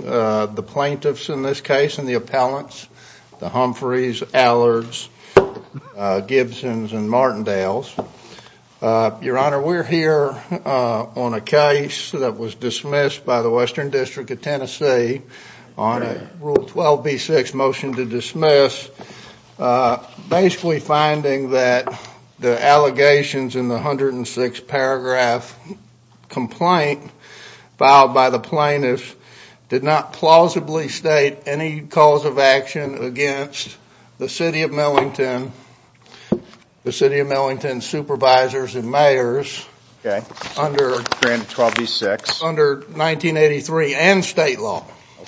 The plaintiffs in this case and the appellants, the Humphreys, Allards, Gibsons, and Martindales. Your Honor, we're here on a case that was dismissed by the Western District of Tennessee on Rule 12b-6, Motion to Dismiss, basically finding that the allegations in the 106-paragraph complaint filed by the plaintiffs did not plausibly state any cause of action against the City of Millington, the City of Millington Supervisors and Mayors under 1983 and state law.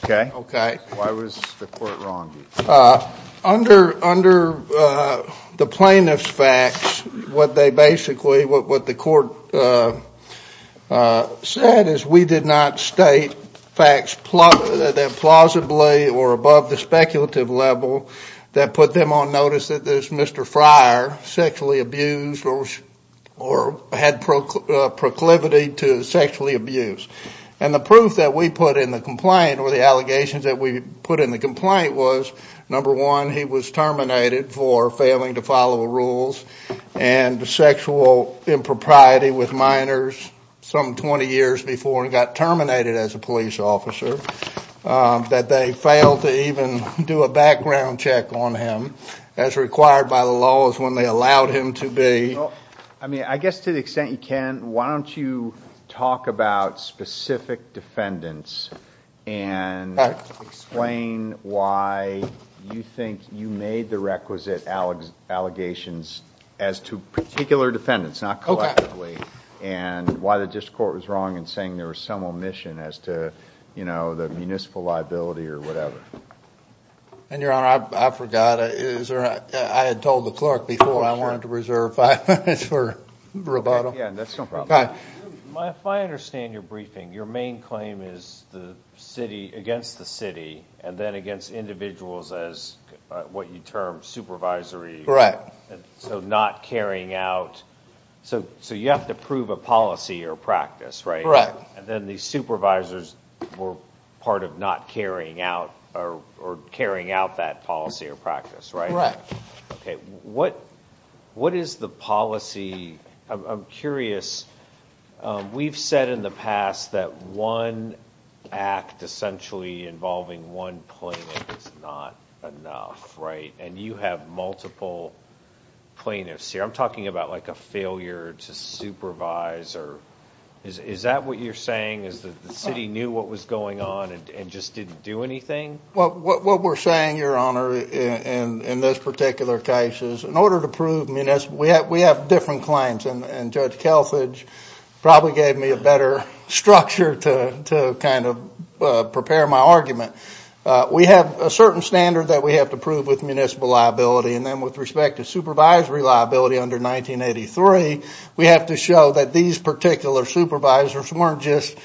Okay. Okay. Why was the court wrong? Under the plaintiff's facts, what they basically, what the court said is we did not state facts that plausibly or above the speculative level that put them on notice that this Mr. Friar sexually abused or had proclivity to sexually abuse. And the proof that we put in the complaint or the allegations that we put in the complaint was, number one, he was terminated for failing to follow the rules and sexual impropriety with minors some 20 years before he got terminated as a police officer, that they failed to even do a background check on him as required by the laws when they allowed him to be. I mean, I guess to the extent you can, why don't you talk about specific defendants and explain why you think you made the requisite allegations as to particular defendants, not collectively, and why the district court was wrong in saying there was some omission as to the municipal liability or whatever. And Your Honor, I forgot, I had told the clerk before I wanted to reserve five minutes for rebuttal. Yeah, that's no problem. Okay. If I understand your briefing, your main claim is the city against the city and then against individuals as what you term supervisory, so not carrying out. So you have to prove a policy or practice, right? And then the supervisors were part of not carrying out or carrying out that policy or practice, right? Right. Okay. What is the policy? I'm curious. We've said in the past that one act essentially involving one plaintiff is not enough, right? And you have multiple plaintiffs here. I'm talking about like a failure to supervise or, is that what you're saying? Is that the city knew what was going on and just didn't do anything? What we're saying, Your Honor, in this particular case is in order to prove municipal, we have different claims. And Judge Kelfage probably gave me a better structure to kind of prepare my argument. We have a certain standard that we have to prove with municipal liability and then with respect to supervisory liability under 1983, we have to show that these particular supervisors weren't just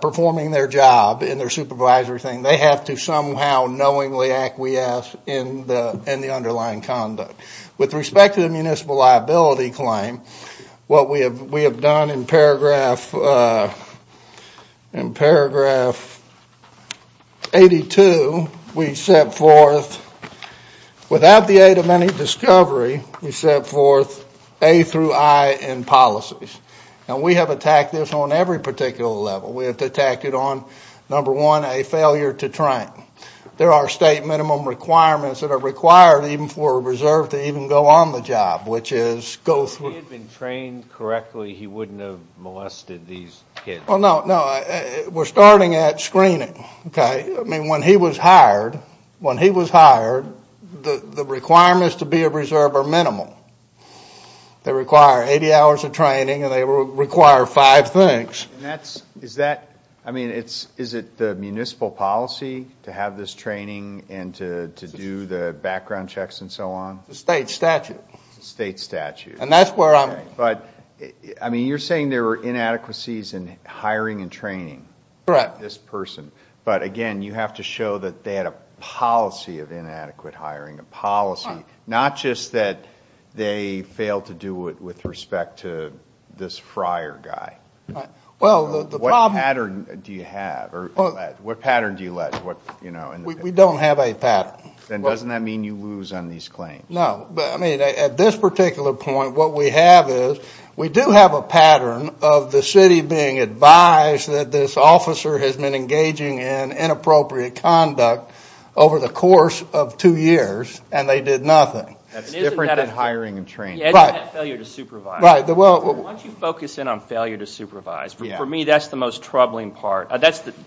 performing their job in their supervisory thing. They have to somehow knowingly acquiesce in the underlying conduct. With respect to the municipal liability claim, what we have done in paragraph 82, we set forth without the aid of any discovery, we set forth A through I in policies. And we have attacked this on every particular level. We have attacked it on, number one, a failure to train. There are state minimum requirements that are required even for a reserve to even go on the job, which is go through. If he had been trained correctly, he wouldn't have molested these kids. Well, no. No. We're starting at screening. Okay? I mean, when he was hired, when he was hired, the requirements to be a reserve are minimal. They require 80 hours of training and they require five things. Is that, I mean, is it the municipal policy to have this training and to do the background checks and so on? It's the state statute. It's the state statute. And that's where I'm... Okay. But, I mean, you're saying there were inadequacies in hiring and training. Correct. This person. But, again, you have to show that they had a policy of inadequate hiring, a policy, not just that they failed to do it with respect to this friar guy. Right. Well, the problem... What pattern do you have, or what pattern do you let, you know... We don't have a pattern. Then doesn't that mean you lose on these claims? No. But, I mean, at this particular point, what we have is we do have a pattern of the city being advised that this officer has been engaging in inappropriate conduct over the course of two years and they did nothing. That's different than hiring and training. Right. And that failure to supervise. Right. Well... Why don't you focus in on failure to supervise? Yeah. For me, that's the most troubling part.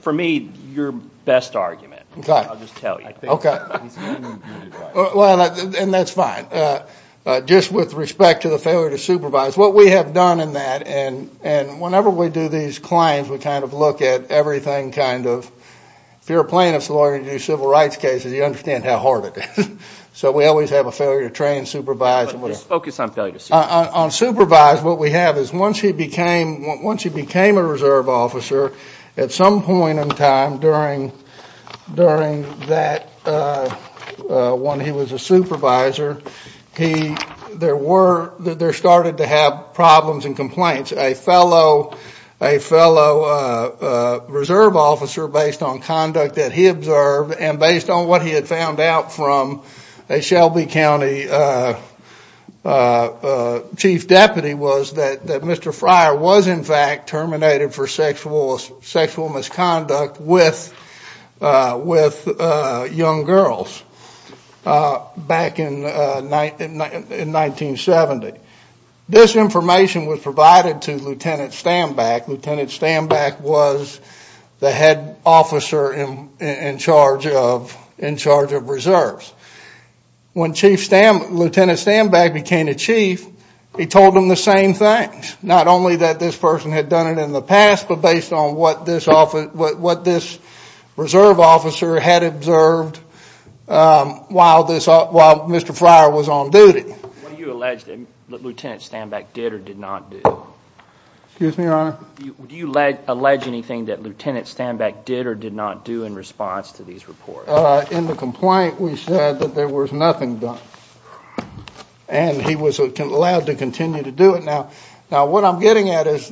For me, your best argument. Okay. I'll just tell you. Okay. Well, and that's fine. Just with respect to the failure to supervise, what we have done in that, and whenever we do these claims, we kind of look at everything kind of... If you're a plaintiff's lawyer and you do civil rights cases, you understand how hard So, we always have a failure to train, supervise, and whatever. Just focus on failure to supervise. On supervise, what we have is once he became a reserve officer, at some point in time during that when he was a supervisor, there started to have problems and complaints. A fellow reserve officer, based on conduct that he observed and based on what he had Chief Deputy was that Mr. Fryer was in fact terminated for sexual misconduct with young girls back in 1970. This information was provided to Lieutenant Stambach. Lieutenant Stambach was the head officer in charge of reserves. When Lieutenant Stambach became the chief, he told them the same things. Not only that this person had done it in the past, but based on what this reserve officer had observed while Mr. Fryer was on duty. What do you allege that Lieutenant Stambach did or did not do? Excuse me, Your Honor? Do you allege anything that Lieutenant Stambach did or did not do in response to these reports? In the complaint, we said that there was nothing done. He was allowed to continue to do it. What I'm getting at is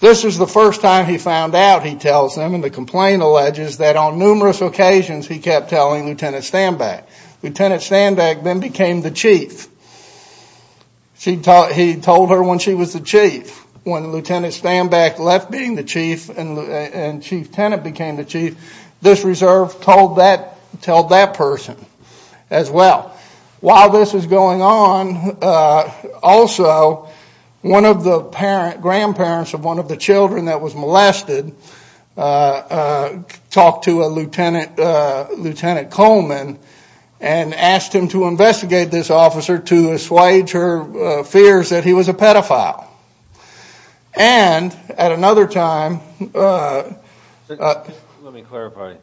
this is the first time he found out, he tells them, and the complaint alleges that on numerous occasions he kept telling Lieutenant Stambach. Lieutenant Stambach then became the chief. He told her when she was the chief. When Lieutenant Stambach left being the chief and Chief Tenet became the chief, this reserve told that person as well. While this was going on, also, one of the grandparents of one of the children that was molested talked to a Lieutenant Coleman and asked him to investigate this officer to assuage her fears that he was a pedophile. At another time... Let me clarify.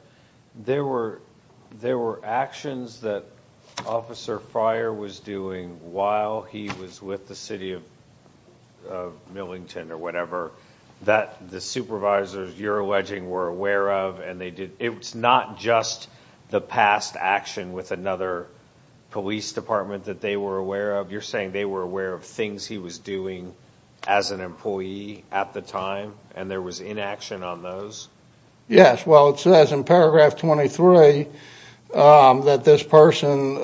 There were actions that Officer Fryer was doing while he was with the city of Millington or whatever that the supervisors, you're alleging, were aware of. It's not just the past action with another police department that they were aware of. You're saying they were aware of things he was doing as an employee at the time and there was inaction on those? Yes, well it says in paragraph 23 that this person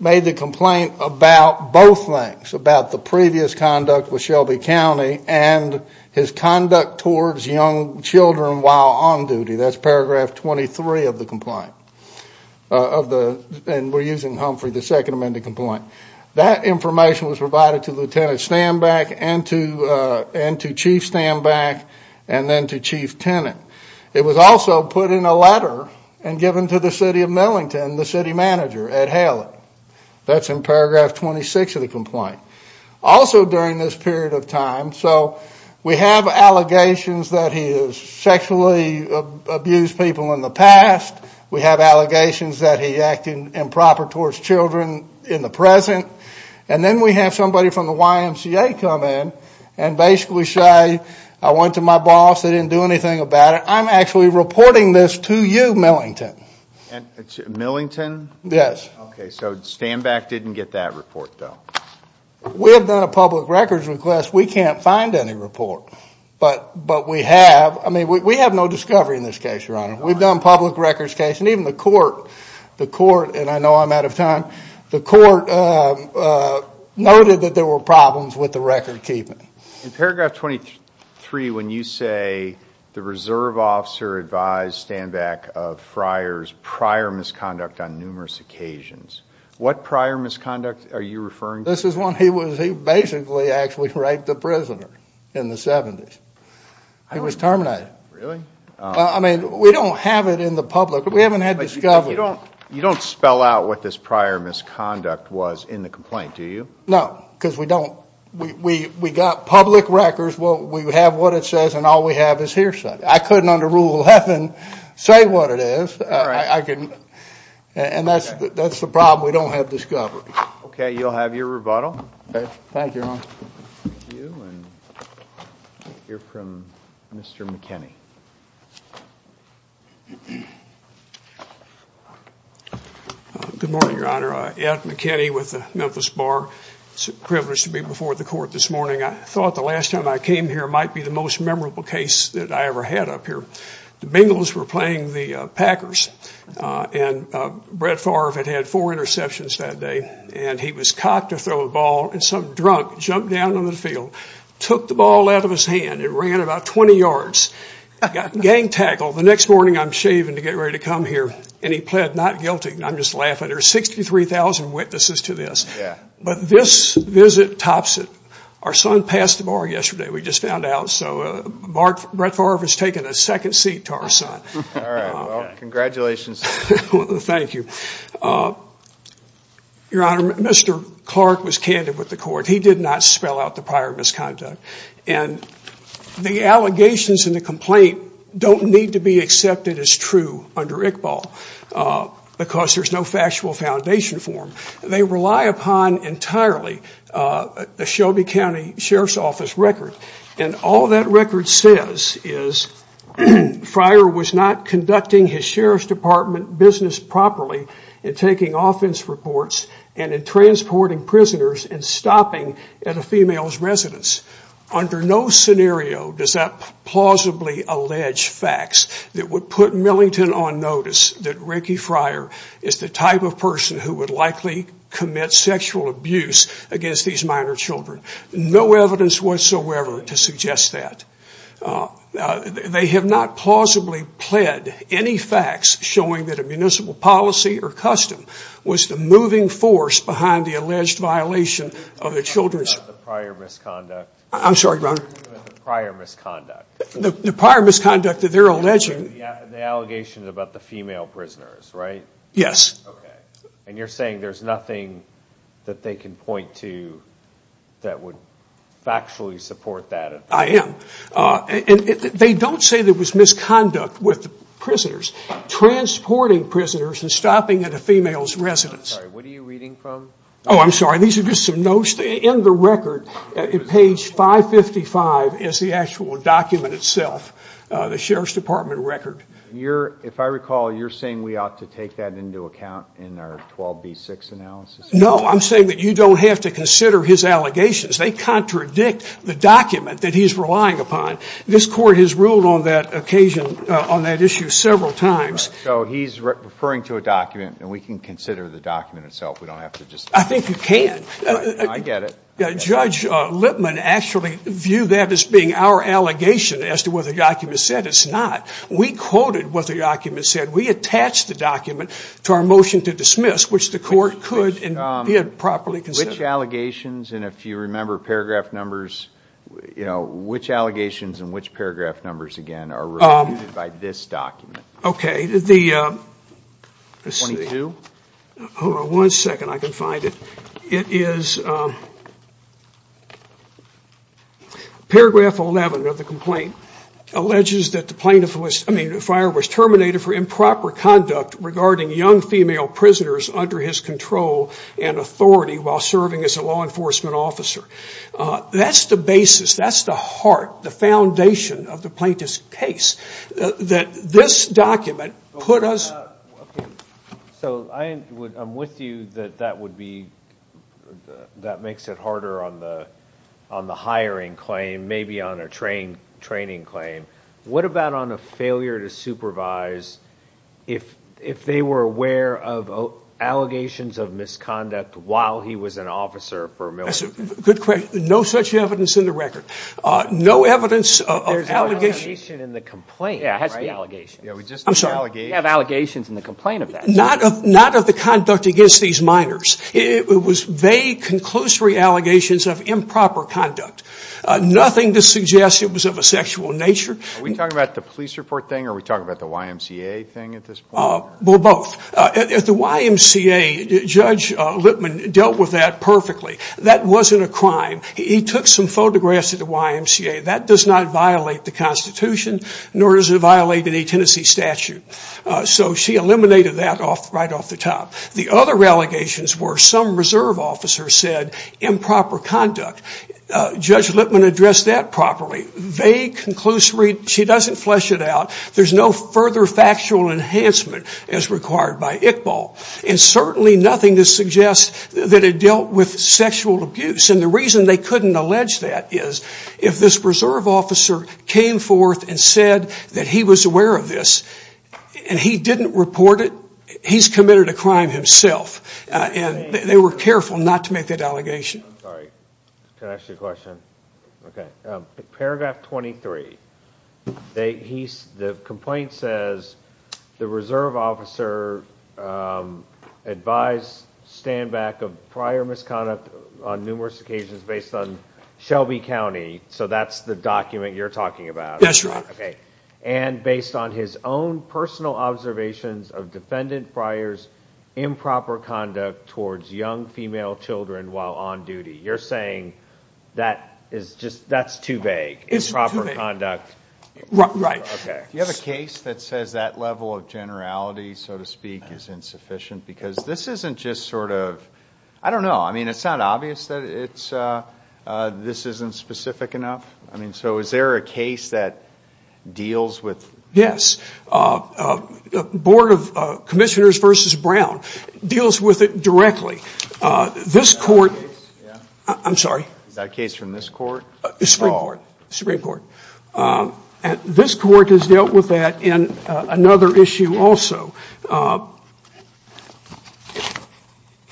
made the complaint about both things, about the previous conduct with Shelby County and his conduct towards young children while on duty. That's paragraph 23 of the complaint and we're using Humphrey, the second amended complaint. That information was provided to Lieutenant Stambach and to Chief Stambach and then to Chief Tenet. It was also put in a letter and given to the city of Millington, the city manager, Ed Haley. That's in paragraph 26 of the complaint. Also during this period of time, so we have allegations that he has sexually abused people in the past. We have allegations that he acted improper towards children in the present and then we have somebody from the YMCA come in and basically say, I went to my boss, they didn't do anything about it, I'm actually reporting this to you, Millington. Millington? Yes. Okay, so Stambach didn't get that report though? We have done a public records request, we can't find any report, but we have. We have no discovery in this case, your honor. We've done public records case and even the court, the court, and I know I'm out of time, the court noted that there were problems with the record keeping. In paragraph 23 when you say the reserve officer advised Stambach of Friar's prior misconduct on numerous occasions, what prior misconduct are you referring to? This is when he was, he basically actually raped a prisoner in the 70s. He was terminated. Really? I mean, we don't have it in the public, we haven't had discovery. You don't spell out what this prior misconduct was in the complaint, do you? No, because we don't, we got public records, we have what it says and all we have is hearsay. I couldn't under rule 11 say what it is, I couldn't, and that's the problem, we don't have discovery. Okay, you'll have your rebuttal. Thank you, your honor. Thank you, and we'll hear from Mr. McKinney. Good morning, your honor, Ed McKinney with the Memphis Bar, it's a privilege to be before the court this morning. I thought the last time I came here might be the most memorable case that I ever had up here. The Bengals were playing the Packers and Brett Favre had had four interceptions that day and he was cocked to throw the ball and some drunk jumped down on the field, took the ball out of his hand and ran about 20 yards, got gang tackled. The next morning I'm shaving to get ready to come here and he pled not guilty, and I'm just laughing. There are 63,000 witnesses to this, but this visit tops it. Our son passed the bar yesterday, we just found out, so Brett Favre has taken a second seat to our son. All right, well, congratulations. Thank you. Your honor, Mr. Clark was candid with the court. He did not spell out the prior misconduct, and the allegations in the complaint don't need to be accepted as true under Iqbal because there's no factual foundation for them. They rely upon, entirely, a Shelby County Sheriff's Office record, and all that record says is Friar was not conducting his Sheriff's Department business properly in taking offense reports and in transporting prisoners and stopping at a female's residence. Under no scenario does that plausibly allege facts that would put Millington on notice that Ricky Friar is the type of person who would likely commit sexual abuse against these minor children. No evidence whatsoever to suggest that. They have not plausibly pled any facts showing that a municipal policy or custom was the moving force behind the alleged violation of the children's... I'm sorry, your honor? The prior misconduct. The prior misconduct that they're alleging... The allegation is about the female prisoners, right? Yes. You're saying there's nothing that they can point to that would factually support that? I am. They don't say there was misconduct with the prisoners transporting prisoners and stopping at a female's residence. I'm sorry, what are you reading from? Oh, I'm sorry. These are just some notes. In the record, page 555, is the actual document itself, the Sheriff's Department record. If I recall, you're saying we ought to take that into account in our 12B6 analysis? No, I'm saying that you don't have to consider his allegations. They contradict the document that he's relying upon. This court has ruled on that issue several times. He's referring to a document, and we can consider the document itself? I think you can. I get it. Judge Lippman actually viewed that as being our allegation as to what the document said. It's not. We quoted what the document said. We attached the document to our motion to dismiss, which the court could and did properly consider. Which allegations, and if you remember paragraph numbers, which allegations and which paragraph numbers, again, are reviewed by this document? Okay. The... 22? Hold on one second, I can find it. It is paragraph 11 of the complaint, alleges that the plaintiff was, I mean, the fire was terminated for improper conduct regarding young female prisoners under his control and authority while serving as a law enforcement officer. That's the basis, that's the heart, the foundation of the plaintiff's case, that this document put us... So I'm with you that that makes it harder on the hiring claim, maybe on a training claim. What about on a failure to supervise, if they were aware of allegations of misconduct while he was an officer for a military... Good question. No such evidence in the record. No evidence of allegations... There's no allegation in the complaint, right? Yeah, it has to be allegations. Yeah, we just... I'm sorry. We have allegations in the complaint of that. Not of the conduct against these minors. It was vague, conclusory allegations of improper conduct. Nothing to suggest it was of a sexual nature. Are we talking about the police report thing or are we talking about the YMCA thing at this point? Well, both. At the YMCA, Judge Lippman dealt with that perfectly. That wasn't a crime. He took some photographs at the YMCA. That does not violate the Constitution, nor does it violate any Tennessee statute. So she eliminated that right off the top. The other allegations were some reserve officer said improper conduct. Judge Lippman addressed that properly. Vague, conclusory, she doesn't flesh it out. There's no further factual enhancement as required by ICBAL. And certainly nothing to suggest that it dealt with sexual abuse. And the reason they couldn't allege that is if this reserve officer came forth and said that he was aware of this and he didn't report it, he's committed a crime himself. They were careful not to make that allegation. I'm sorry. Can I ask you a question? Paragraph 23. The complaint says the reserve officer advised stand back of prior misconduct on numerous occasions based on Shelby County. So that's the document you're talking about. That's right. Okay. And based on his own personal observations of defendant Friar's improper conduct towards young female children while on duty. You're saying that is just, that's too vague, improper conduct. Right. Do you have a case that says that level of generality, so to speak, is insufficient? Because this isn't just sort of, I don't know, I mean, it's not obvious that it's, this isn't specific enough. I mean, so is there a case that deals with? Yes. The Board of Commissioners versus Brown deals with it directly. This court, I'm sorry. That case from this court? Supreme Court. This court has dealt with that in another issue also.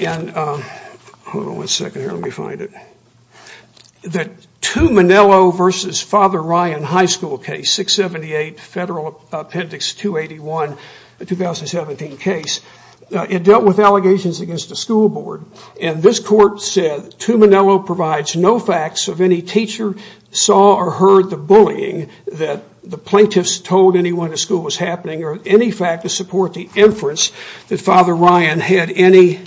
And, hold on one second here, let me find it. The Tuminello versus Father Ryan High School case, 678 Federal Appendix 281, a 2017 case. It dealt with allegations against the school board. And this court said, Tuminello provides no facts of any teacher saw or heard the bullying that the plaintiffs told anyone at school was happening or any fact to support the inference that Father Ryan had any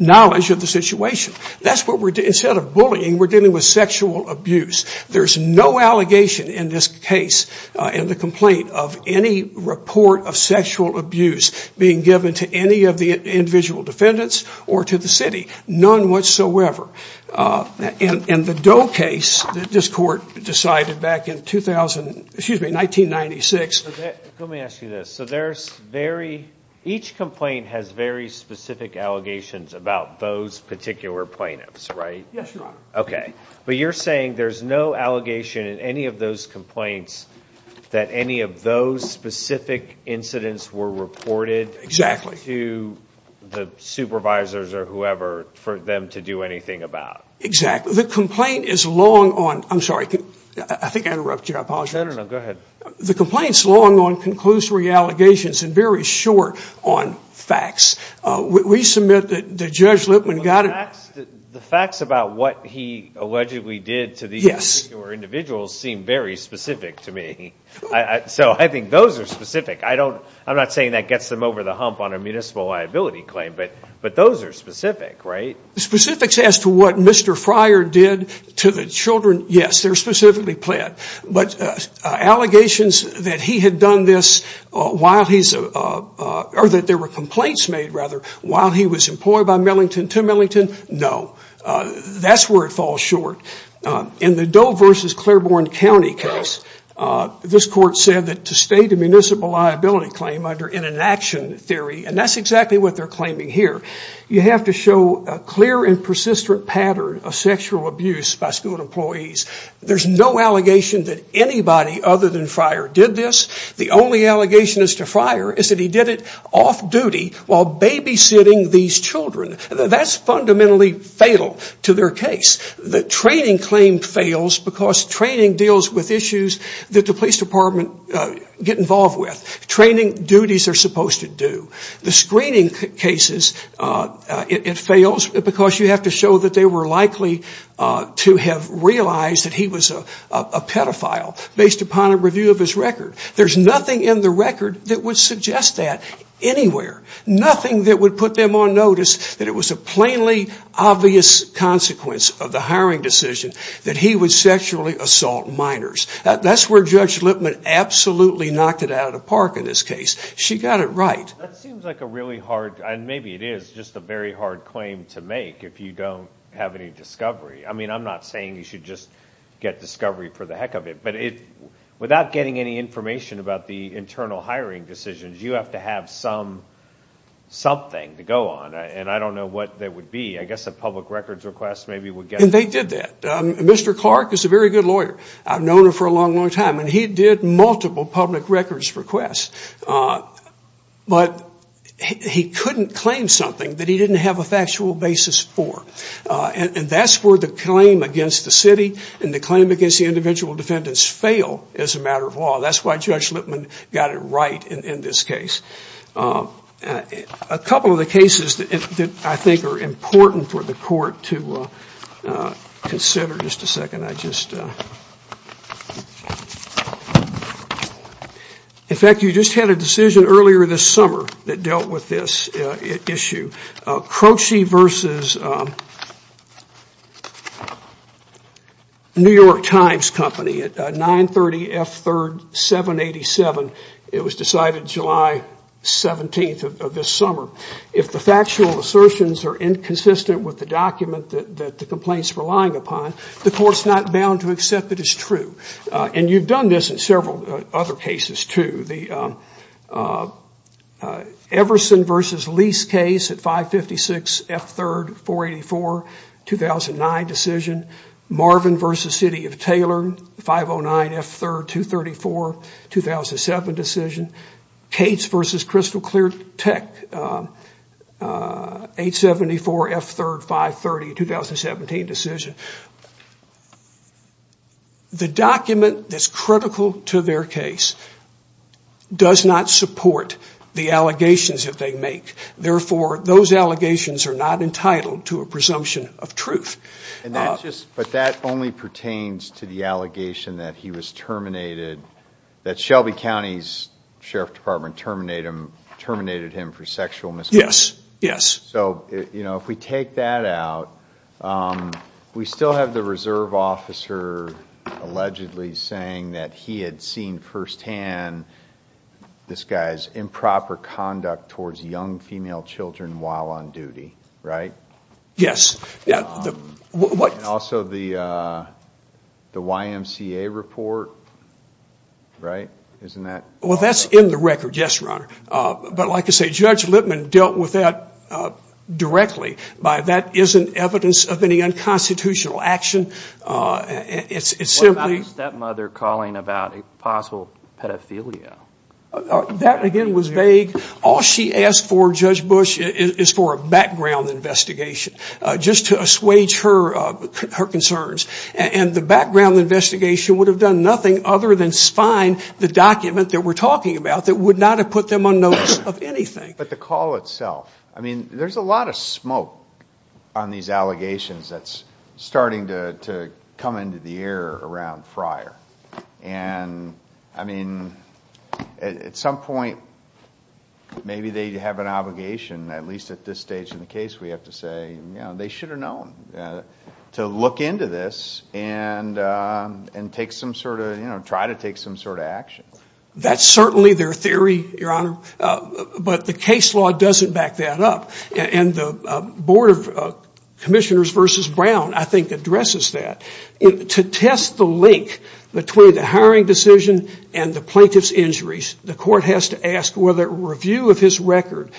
knowledge of the situation. That's what we're doing. Instead of bullying, we're dealing with sexual abuse. There's no allegation in this case in the complaint of any report of sexual abuse being given to any of the individual defendants or to the city, none whatsoever. And the Doe case, this court decided back in 2000, excuse me, 1996. Let me ask you this, so there's very, each complaint has very specific allegations about those particular plaintiffs, right? Yes, Your Honor. Okay. But you're saying there's no allegation in any of those complaints that any of those specific incidents were reported to the supervisors or whoever for them to do anything about? Exactly. The complaint is long on, I'm sorry, I think I interrupted you, I apologize. No, no, no, go ahead. The complaint's long on conclusory allegations and very short on facts. We submit that Judge Lippman got it. The facts about what he allegedly did to these individuals seem very specific to me. So I think those are specific. I'm not saying that gets them over the hump on a municipal liability claim, but those are specific, right? Specifics as to what Mr. Fryer did to the children, yes, they're specifically pled. But allegations that he had done this while he's, or that there were complaints made rather while he was employed by Millington to Millington, no. That's where it falls short. In the Doe versus Claiborne County case, this court said that to state a municipal liability claim under in an action theory, and that's exactly what they're claiming here, you have to show a clear and persistent pattern of sexual abuse by school employees. There's no allegation that anybody other than Fryer did this. The only allegation as to Fryer is that he did it off-duty while babysitting these children. That's fundamentally fatal to their case. The training claim fails because training deals with issues that the police department get involved with. Training duties are supposed to do. The screening cases, it fails because you have to show that they were likely to have realized that he was a pedophile based upon a review of his record. There's nothing in the record that would suggest that anywhere. Nothing that would put them on notice that it was a plainly obvious consequence of the hiring decision that he would sexually assault minors. That's where Judge Lipman absolutely knocked it out of the park in this case. She got it right. That seems like a really hard, and maybe it is, just a very hard claim to make if you don't have any discovery. I'm not saying you should just get discovery for the heck of it, but without getting any information about the internal hiring decisions, you have to have something to go on. I don't know what that would be. I guess a public records request maybe would get it. They did that. Mr. Clark is a very good lawyer. I've known him for a long, long time. He did multiple public records requests, but he couldn't claim something that he didn't have a factual basis for. That's where the claim against the city and the claim against the individual defendants fail as a matter of law. That's why Judge Lipman got it right in this case. A couple of the cases that I think are important for the court to consider, in fact you just had a decision earlier this summer that dealt with this issue, Croce versus New York Times Company at 930 F3rd 787. It was decided July 17th of this summer. If the factual assertions are inconsistent with the document that the complaint is relying upon, the court is not bound to accept that it's true. You've done this in several other cases too. The Everson versus Lease case at 556 F3rd 484, 2009 decision. Marvin versus City of Taylor, 509 F3rd 234, 2007 decision. Cates versus Crystal Clear Tech, 874 F3rd 530, 2017 decision. The document that's critical to their case does not support the allegations that they make. Therefore, those allegations are not entitled to a presumption of truth. But that only pertains to the allegation that he was terminated, that Shelby County's Sheriff Department terminated him for sexual misconduct. Yes, yes. So if we take that out, we still have the reserve officer allegedly saying that he had seen firsthand this guy's improper conduct towards young female children while on duty, right? Yes. And also the YMCA report, right? Isn't that? Well, that's in the record, yes, Your Honor. But like I say, Judge Lippman dealt with that directly. But that isn't evidence of any unconstitutional action. It's simply- What about a stepmother calling about a possible pedophilia? That, again, was vague. All she asked for, Judge Bush, is for a background investigation just to assuage her concerns. And the background investigation would have done nothing other than spine the document that we're talking about that would not have put them on notice of anything. But the call itself, I mean, there's a lot of smoke on these allegations that's starting to come into the air around Fryer. And, I mean, at some point, maybe they have an obligation, at least at this stage in the case, we have to say, you know, they should have known to look into this and take some sort of, you know, try to take some sort of action. That's certainly their theory, Your Honor, but the case law doesn't back that up. And the Board of Commissioners versus Brown, I think, addresses that. To test the link between the hiring decision and the plaintiff's injuries, the court has to ask whether a review of his record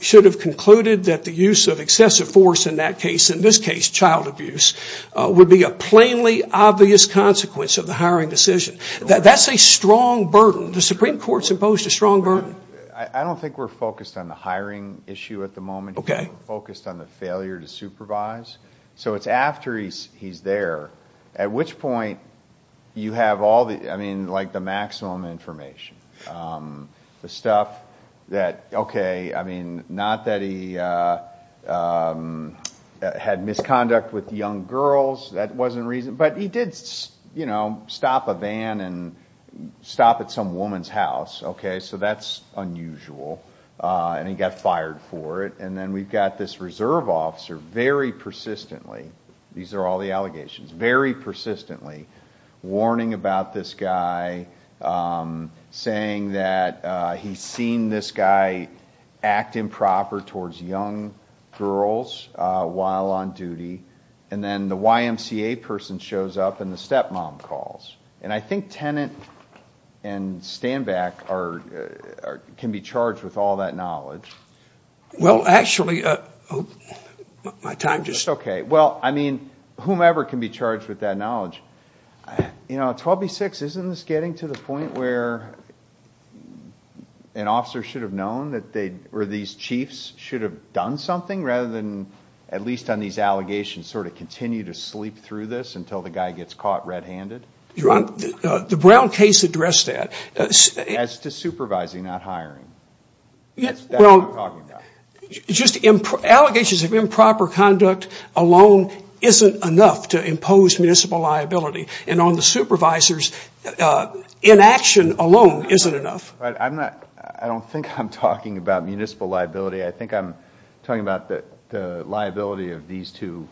should have concluded that the use of excessive force in that case, in this case, child abuse, would be a plainly obvious consequence of the hiring decision. That's a strong burden. The Supreme Court's imposed a strong burden. I don't think we're focused on the hiring issue at the moment. Okay. We're focused on the failure to supervise. So it's after he's there, at which point you have all the, I mean, like the maximum information. The stuff that, okay, I mean, not that he had misconduct with young girls. That wasn't reason, but he did, you know, stop a van and stop at some woman's house. Okay. So that's unusual. And he got fired for it. And then we've got this reserve officer very persistently, these are all the allegations, very persistently warning about this guy, saying that he's seen this guy act improper towards young girls while on duty. And then the YMCA person shows up and the stepmom calls. And I think Tenet and Stanback can be charged with all that knowledge. Well, actually, my time just... Okay. Well, I mean, whomever can be charged with that knowledge. You know, 12B6, isn't this getting to the point where an officer should have known that they, or these chiefs should have done something rather than, at least on these allegations, sort of continue to sleep through this until the guy gets caught red-handed? Your Honor, the Brown case addressed that. As to supervising, not hiring. That's what I'm talking about. Just allegations of improper conduct alone isn't enough to impose municipal liability. And on the supervisors, inaction alone isn't enough. I'm not, I don't think I'm talking about municipal liability. I think I'm talking about the liability of these two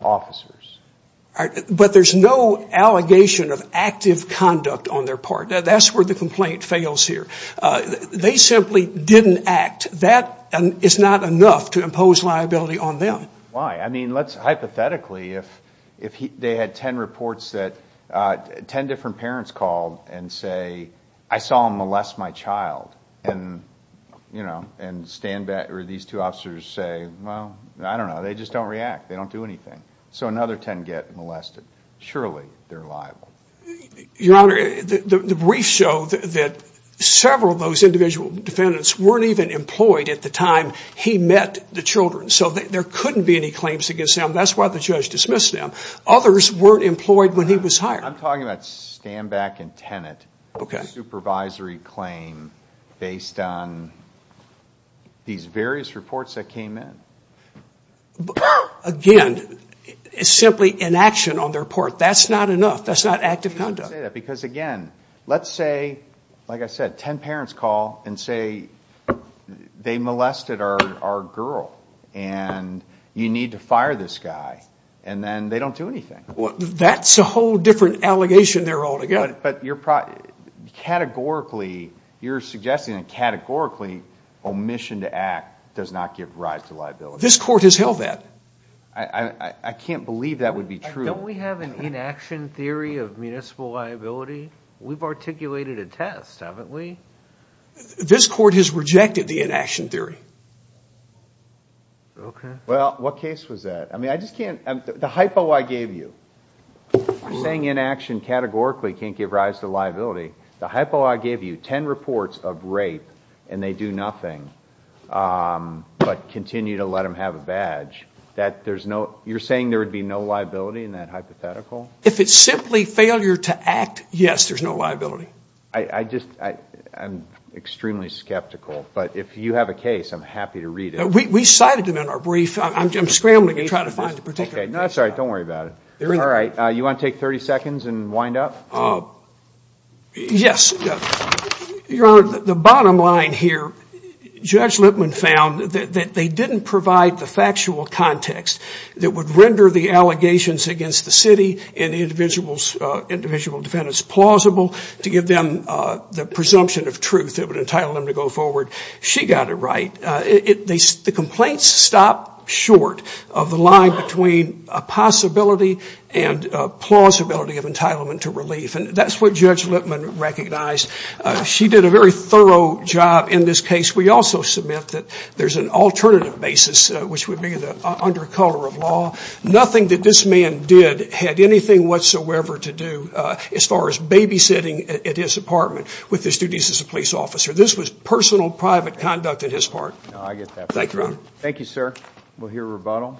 officers. But there's no allegation of active conduct on their part. That's where the complaint fails here. They simply didn't act. That is not enough to impose liability on them. Why? I mean, let's, hypothetically, if they had 10 reports that 10 different parents called and say, I saw him molest my child. And, you know, and stand back, or these two officers say, well, I don't know. They just don't react. They don't do anything. So another 10 get molested. Surely, they're liable. Your Honor, the briefs show that several of those individual defendants weren't even employed at the time he met the children. So there couldn't be any claims against them. That's why the judge dismissed them. Others weren't employed when he was hired. I'm talking about stand back and tenant. Okay. Supervisory claim based on these various reports that came in. Again, it's simply inaction on their part. That's not enough. That's not active conduct. Because, again, let's say, like I said, 10 parents call and say, they molested our girl. And you need to fire this guy. And then they don't do anything. Well, that's a whole different allegation there all together. But you're, categorically, you're suggesting that categorically, omission to act does not give rise to liability. This court has held that. I can't believe that would be true. Don't we have an inaction theory of municipal liability? We've articulated a test, haven't we? This court has rejected the inaction theory. Okay. Well, what case was that? I mean, I just can't, the hypo I gave you, saying inaction categorically can't give rise to liability, the hypo I gave you, 10 reports of rape, and they do nothing, but continue to let them have a badge, that there's no, you're saying there would be no liability in that hypothetical? If it's simply failure to act, yes, there's no liability. I just, I'm extremely skeptical. But if you have a case, I'm happy to read it. We cited them in our brief. I'm scrambling to try to find a particular. Okay. No, that's all right. Don't worry about it. All right. You want to take 30 seconds and wind up? Yes. Your Honor, the bottom line here, Judge Lipman found that they didn't provide the factual context that would render the allegations against the city and individual defendants plausible to give them the presumption of truth that would entitle them to go forward. She got it right. The complaints stopped short of the line between a possibility and a plausibility of entitlement to relief. And that's what Judge Lipman recognized. She did a very thorough job in this case. We also submit that there's an alternative basis, which would be under color of law. Nothing that this man did had anything whatsoever to do as far as babysitting at his apartment with his duties as a police officer. This was personal, private conduct on his part. No, I get that. Thank you, Your Honor. Thank you, sir. We'll hear rebuttal.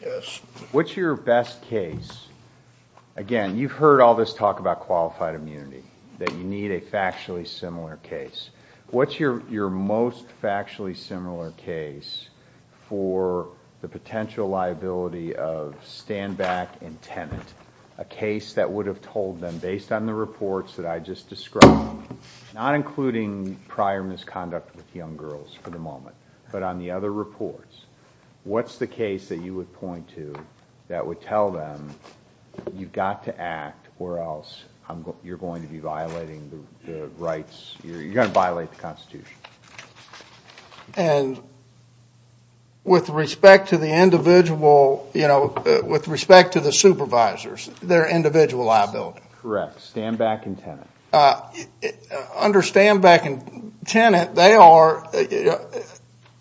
Yes. What's your best case? Again, you've heard all this talk about qualified immunity, that you need a factually similar case. What's your most factually similar case for the potential liability of stand back and tenant, a case that would have told them, based on the reports that I just described, not including prior misconduct with young girls for the moment, but on the other reports, what's the case that you would point to that would tell them you've got to act or else you're going to be violating the rights, you're going to violate the Constitution? And with respect to the individual, you know, with respect to the supervisors, their individual liability. Correct. Stand back and tenant. Under stand back and tenant, they are,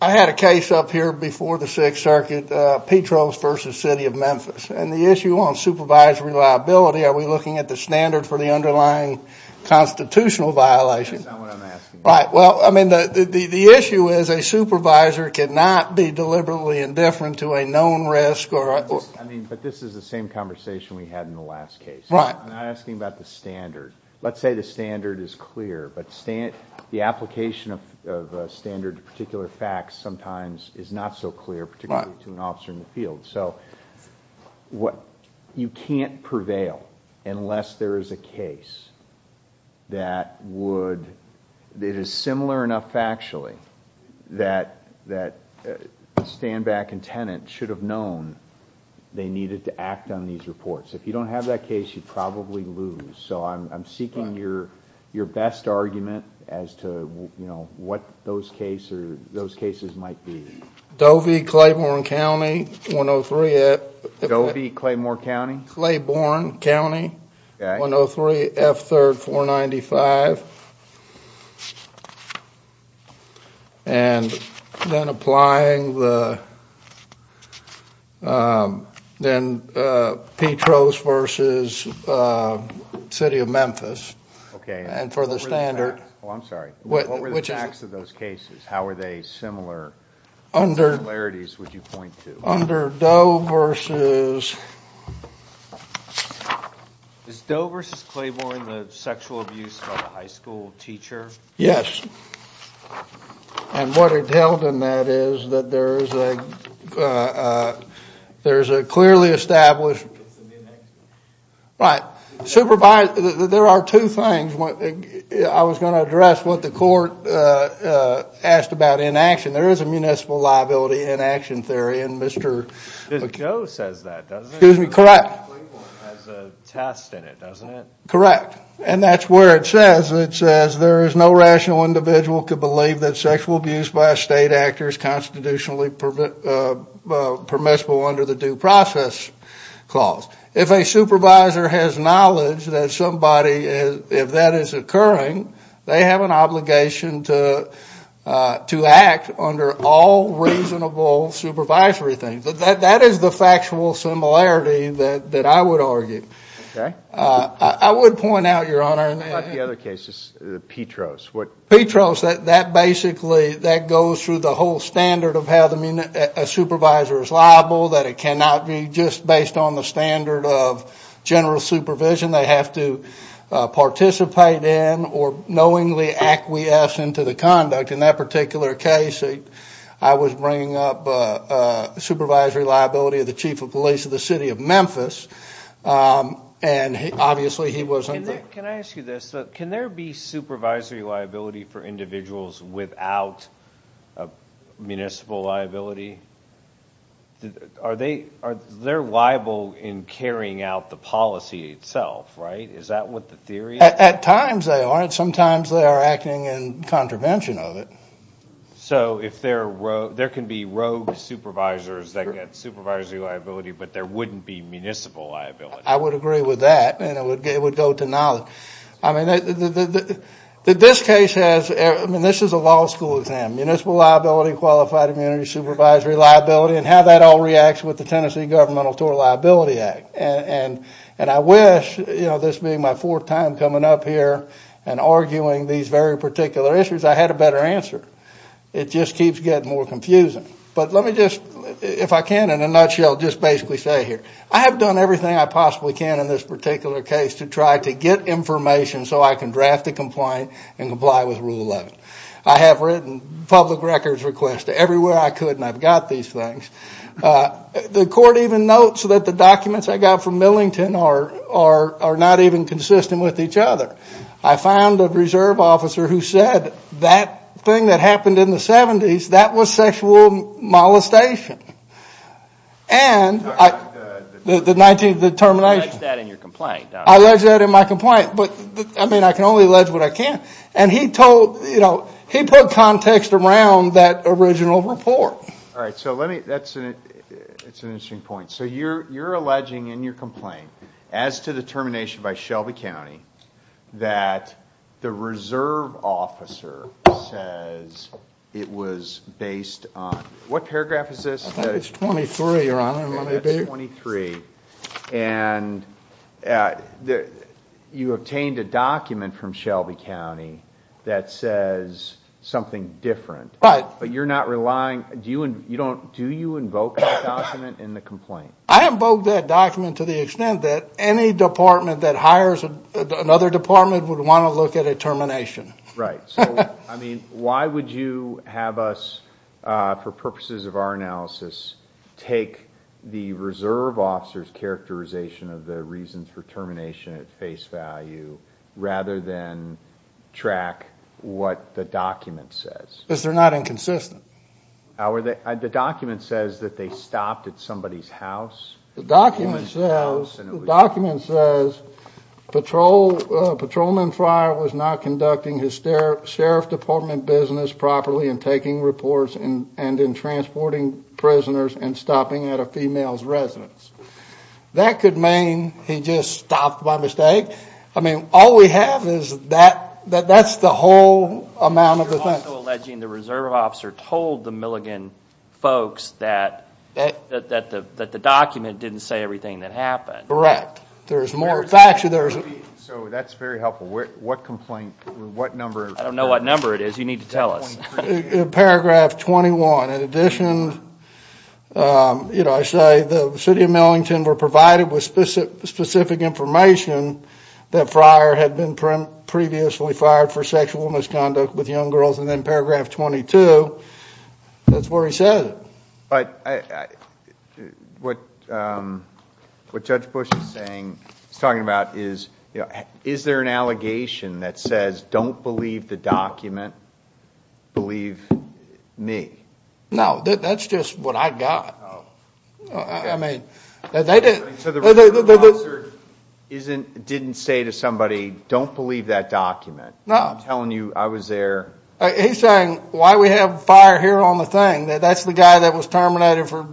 I had a case up here before the Sixth Circuit, Petro's versus City of Memphis. And the issue on supervisory liability, are we looking at the standard for the underlying constitutional violation? That's not what I'm asking. Right. Well, I mean, the issue is a supervisor cannot be deliberately indifferent to a known risk or. I mean, but this is the same conversation we had in the last case. Right. I'm not asking about the standard. Let's say the standard is clear, but the application of a standard to particular facts sometimes is not so clear, particularly to an officer in the field. So what, you can't prevail unless there is a case that would, that is similar enough factually that stand back and tenant should have known they needed to act on these reports. If you don't have that case, you'd probably lose. So I'm seeking your best argument as to, you know, what those cases might be. Dovey, Claiborne County, 103. Dovey, Claiborne County? Claiborne County, 103 F3rd 495. And then applying the, then Petro's versus City of Memphis. Okay. And for the standard. Oh, I'm sorry. What were the facts of those cases? How are they similar? Under. Similarities would you point to? Under Doe versus. Is Doe versus Claiborne the sexual abuse by the high school teacher? Yes. And what it held in that is that there is a, there is a clearly established. Right. Supervised, there are two things. I was going to address what the court asked about inaction. There is a municipal liability inaction theory. And Mr. Joe says that, doesn't he? Excuse me. Correct. Has a test in it, doesn't it? Correct. And that's where it says, it says there is no rational individual could believe that sexual abuse by a state actor is constitutionally permissible under the due process clause. If a supervisor has knowledge that somebody, if that is occurring, they have an obligation to act under all reasonable supervisory things. That is the factual similarity that I would argue. Okay. I would point out, Your Honor. And what about the other cases, the Petros? Petros, that basically, that goes through the whole standard of how a supervisor is liable. That it cannot be just based on the standard of general supervision. They have to participate in or knowingly acquiesce into the conduct. In that particular case, I was bringing up supervisory liability of the chief of police of the city of Memphis. And obviously he wasn't. Can I ask you this? Can there be supervisory liability for individuals without municipal liability? Are they liable in carrying out the policy itself, right? Is that what the theory is? At times they aren't. Sometimes they are acting in contravention of it. So if there can be rogue supervisors that get supervisory liability, but there wouldn't be municipal liability. I would agree with that. And it would go to knowledge. I mean, this case has, I mean, this is a law school exam. Municipal liability, qualified immunity, supervisory liability, and how that all reacts with the Tennessee Governmental Total Liability Act. And I wish, you know, this being my fourth time coming up here and arguing these very particular issues, I had a better answer. It just keeps getting more confusing. But let me just, if I can, in a nutshell, just basically say here. I have done everything I possibly can in this particular case to try to get information so I can draft a complaint and comply with Rule 11. I have written public records requests to everywhere I could, and I've got these things. The court even notes that the documents I got from Millington are not even consistent with each other. I found a reserve officer who said that thing that happened in the 70s, that was sexual molestation. And the 19th, the termination. You allege that in your complaint. I allege that in my complaint. But I mean, I can only allege what I can. And he told, you know, he put context around that original report. All right, so let me, that's an interesting point. So you're alleging in your complaint, as to the termination by Shelby County, that the reserve officer says it was based on, what paragraph is this? I think it's 23, Your Honor, let me read it. It's 23. And you obtained a document from Shelby County that says something different. But you're not relying, do you invoke that document in the complaint? I invoke that document to the extent that any department that hires another department would want to look at a termination. Right, so I mean, why would you have us, for purposes of our analysis, take the reserve officer's characterization of the reasons for termination at face value, rather than track what the document says? Because they're not inconsistent. The document says that they stopped at somebody's house. The document says, patrolman Fryer was not conducting his sheriff department business properly and making reports and transporting prisoners and stopping at a female's residence. That could mean he just stopped by mistake. I mean, all we have is that, that's the whole amount of the thing. You're also alleging the reserve officer told the Milligan folks that the document didn't say everything that happened. Correct. There's more, in fact, there's- So that's very helpful. What complaint, what number? I don't know what number it is, you need to tell us. Paragraph 21, in addition, you know, I say the city of Millington were provided with specific information that Fryer had been previously fired for sexual misconduct with young girls, and then paragraph 22, that's where he says it. But what Judge Bush is saying, he's talking about is, is there an allegation that says, don't believe the document, believe me? No, that's just what I got. Oh. I mean, they didn't- So the reserve officer didn't say to somebody, don't believe that document. No. I'm telling you, I was there- He's saying, why we have fire here on the thing? That's the guy that was terminated for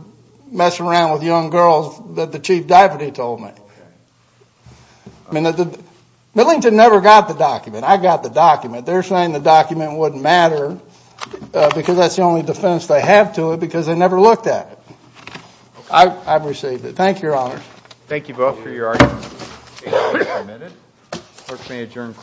messing around with young girls that the chief deputy told me. I mean, Millington never got the document, I got the document. They're saying the document wouldn't matter, because that's the only defense they have to it, because they never looked at it. I've received it. Thank you, Your Honors. Thank you both for your arguments. The case is submitted. Clerk, may I adjourn the court? This is honor four.